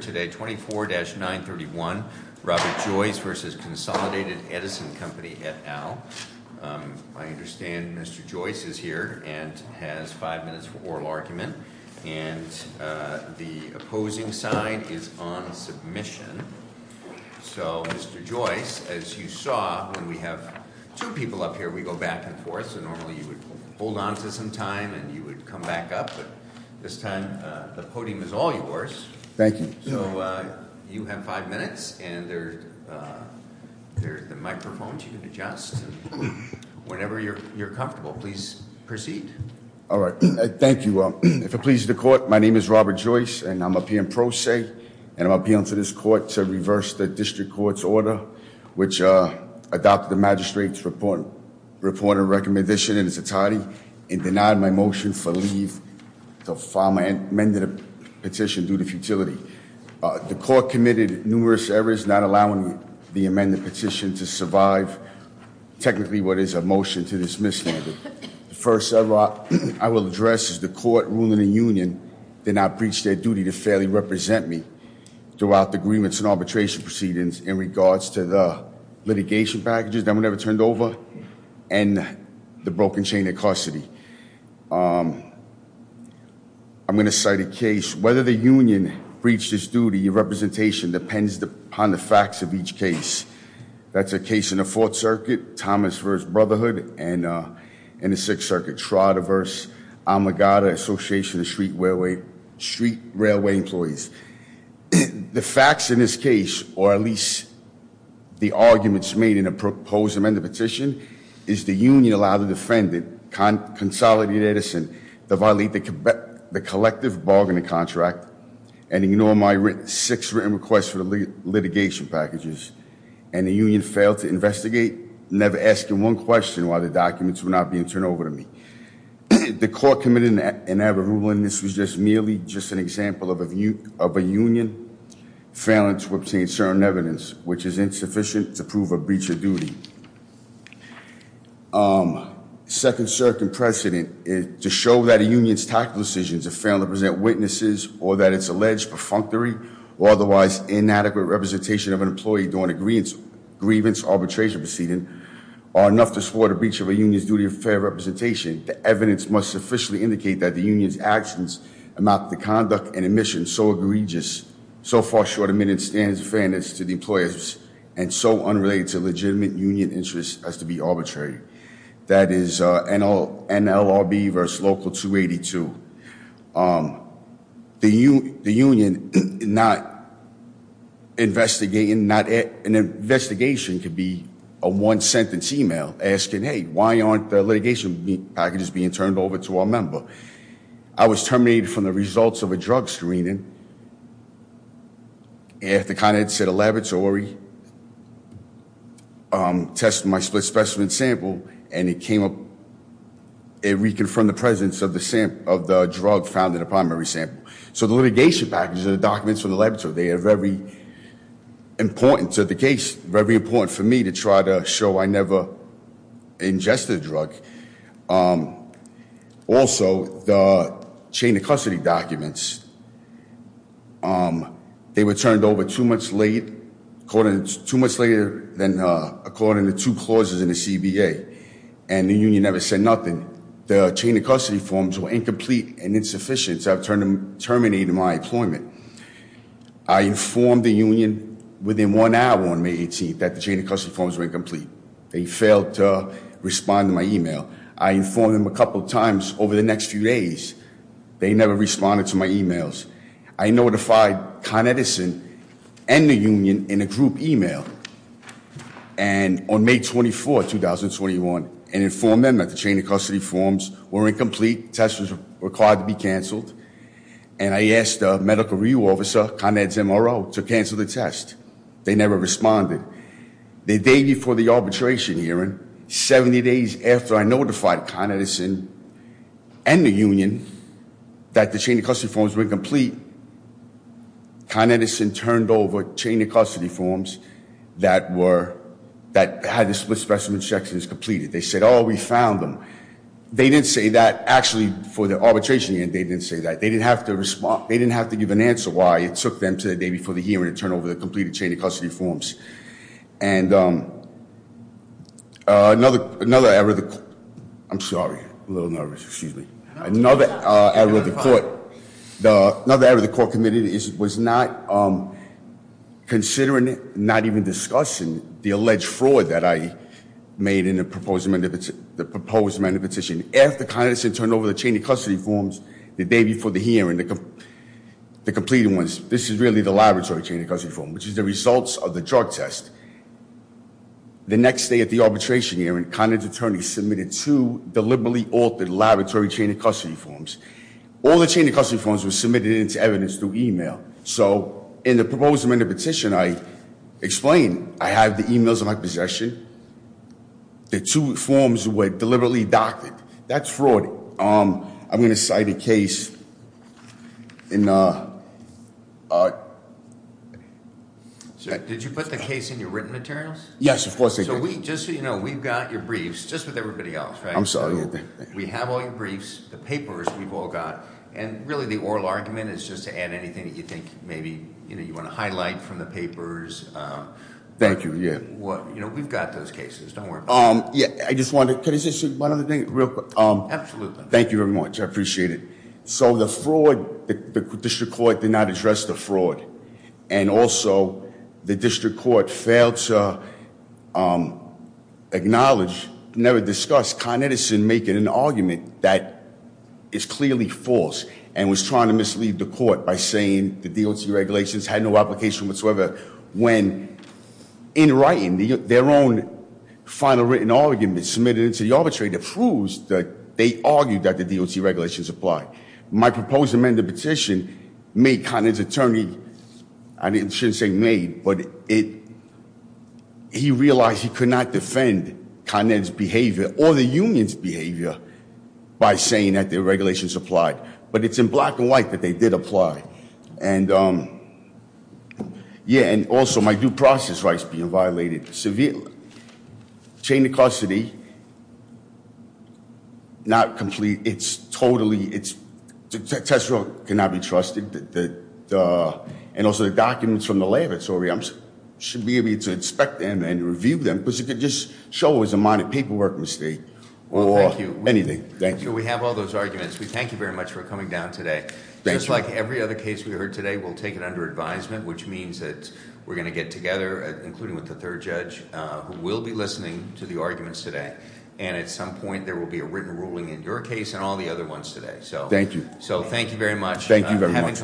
24-931 Robert Joyce v. Consolidated Edison Company, et al. I understand Mr. Joyce is here and has five minutes for oral argument. And the opposing side is on submission. So, Mr. Joyce, as you saw, when we have two people up here, we go back and forth. So normally you would hold on to some time and you would come back up, but this time the podium is all yours. Thank you. So you have five minutes and there's the microphones you can adjust whenever you're comfortable. Please proceed. All right. Thank you. If it pleases the court, my name is Robert Joyce and I'm appealing pro se and I'm appealing to this court to reverse the district court's order, which adopted the magistrate's report and recommendation in its entirety and denied my motion for leave to file my amended petition due to futility. The court committed numerous errors not allowing the amended petition to survive technically what is a motion to dismiss. The first error I will address is the court ruling the union did not preach their duty to fairly represent me throughout the agreements and arbitration proceedings in regards to the litigation packages that were never turned over and the broken chain of custody. I'm going to cite a case, whether the union breached its duty of representation depends upon the facts of each case. That's a case in the Fourth Circuit, Thomas versus Brotherhood and in the Sixth Circuit, Trotter versus Almagada Association of Street Railway Employees. The facts in this case, or at least the arguments made in the proposed amended petition, is the union allowed to defend the consolidated Edison, the collective bargaining contract, and ignore my six written requests for the litigation packages. And the union failed to investigate, never asking one question why the documents were not being turned over to me. The court committed an error ruling this was just merely just an example of a union failing to obtain certain evidence, which is insufficient to prove a breach of duty. Second circuit precedent is to show that a union's tactical decisions are failing to present witnesses or that it's alleged perfunctory or otherwise inadequate representation of an employee during agreements, grievance, arbitration proceedings are enough to support a breach of a union's duty of fair representation. The evidence must sufficiently indicate that the union's actions amount to conduct and evidence to the employers and so unrelated to legitimate union interest has to be arbitrary. That is NLRB versus Local 282. The union not investigating, an investigation could be a one sentence email asking, hey, why aren't the litigation packages being turned over to our member? I was terminated from the results of a drug screening. After kind of it's at a laboratory, test my split specimen sample and it came up, it reconfirmed the presence of the drug found in the primary sample. So the litigation package and the documents from the laboratory, they are very important to the case, very important for me to try to show I never ingested a drug. Also, the chain of custody documents, they were turned over too much later than according to two clauses in the CBA and the union never said nothing. The chain of custody forms were incomplete and insufficient so I terminated my employment. I informed the union within one hour on May 18th that the chain of custody forms were incomplete. They failed to respond to my email. I informed them a couple of times over the next few days. They never responded to my emails. I notified Con Edison and the union in a group email and on May 24th, 2021, and informed them that the chain of custody forms were incomplete. The test was required to be canceled. And I asked the medical review officer, Con Ed's MRO, to cancel the test. They never responded. The day before the arbitration hearing, 70 days after I notified Con Edison and the union that the chain of custody forms were incomplete, Con Edison turned over chain of custody forms that had the split specimen sections completed. They said, oh, we found them. They didn't say that actually for the arbitration hearing. They didn't say that. And another error of the court, I'm sorry, a little nervous, excuse me. Another error of the court, another error of the court committed was not considering, not even discussing the alleged fraud that I made in the proposed amendment petition. After Con Edison turned over the chain of custody forms the day before the hearing, the completed ones, this is really the laboratory chain of custody form, which is the results of the drug test. The next day at the arbitration hearing, Con Ed's attorney submitted two deliberately altered laboratory chain of custody forms. All the chain of custody forms were submitted into evidence through e-mail. So in the proposed amendment petition, I explained I have the e-mails in my possession. The two forms were deliberately doctored. That's fraud. I'm going to cite a case in- Did you put the case in your written materials? Yes, of course I did. Just so you know, we've got your briefs, just with everybody else, right? I'm sorry. We have all your briefs, the papers we've all got, and really the oral argument is just to add anything that you think maybe you want to highlight from the papers. Thank you, yeah. We've got those cases, don't worry about it. Yeah, I just wanted to, could I say one other thing real quick? Absolutely. Thank you very much, I appreciate it. So the fraud, the district court did not address the fraud. And also, the district court failed to acknowledge, never discussed Con Edison making an argument that is clearly false. And was trying to mislead the court by saying the DOC regulations had no application whatsoever when in writing, their own final written argument submitted into the arbitrator proves that they argued that the DOC regulations apply. My proposed amended petition made Con Edison's attorney, I shouldn't say made, but he realized he could not defend Con Edison's behavior or the union's behavior by saying that the regulations applied. But it's in black and white that they did apply. And yeah, and also my due process rights being violated severely. Chain of custody, not complete. It's totally, it's, Tesoro cannot be trusted. And also the documents from the laboratory, I should be able to inspect them and review them because it could just show it was a minor paperwork mistake or anything. Thank you. We have all those arguments. We thank you very much for coming down today. Just like every other case we heard today, we'll take it under advisement, which means that we're going to get together, including with the third judge, who will be listening to the arguments today. And at some point, there will be a written ruling in your case and all the other ones today. Thank you. So thank you very much. Thank you very much.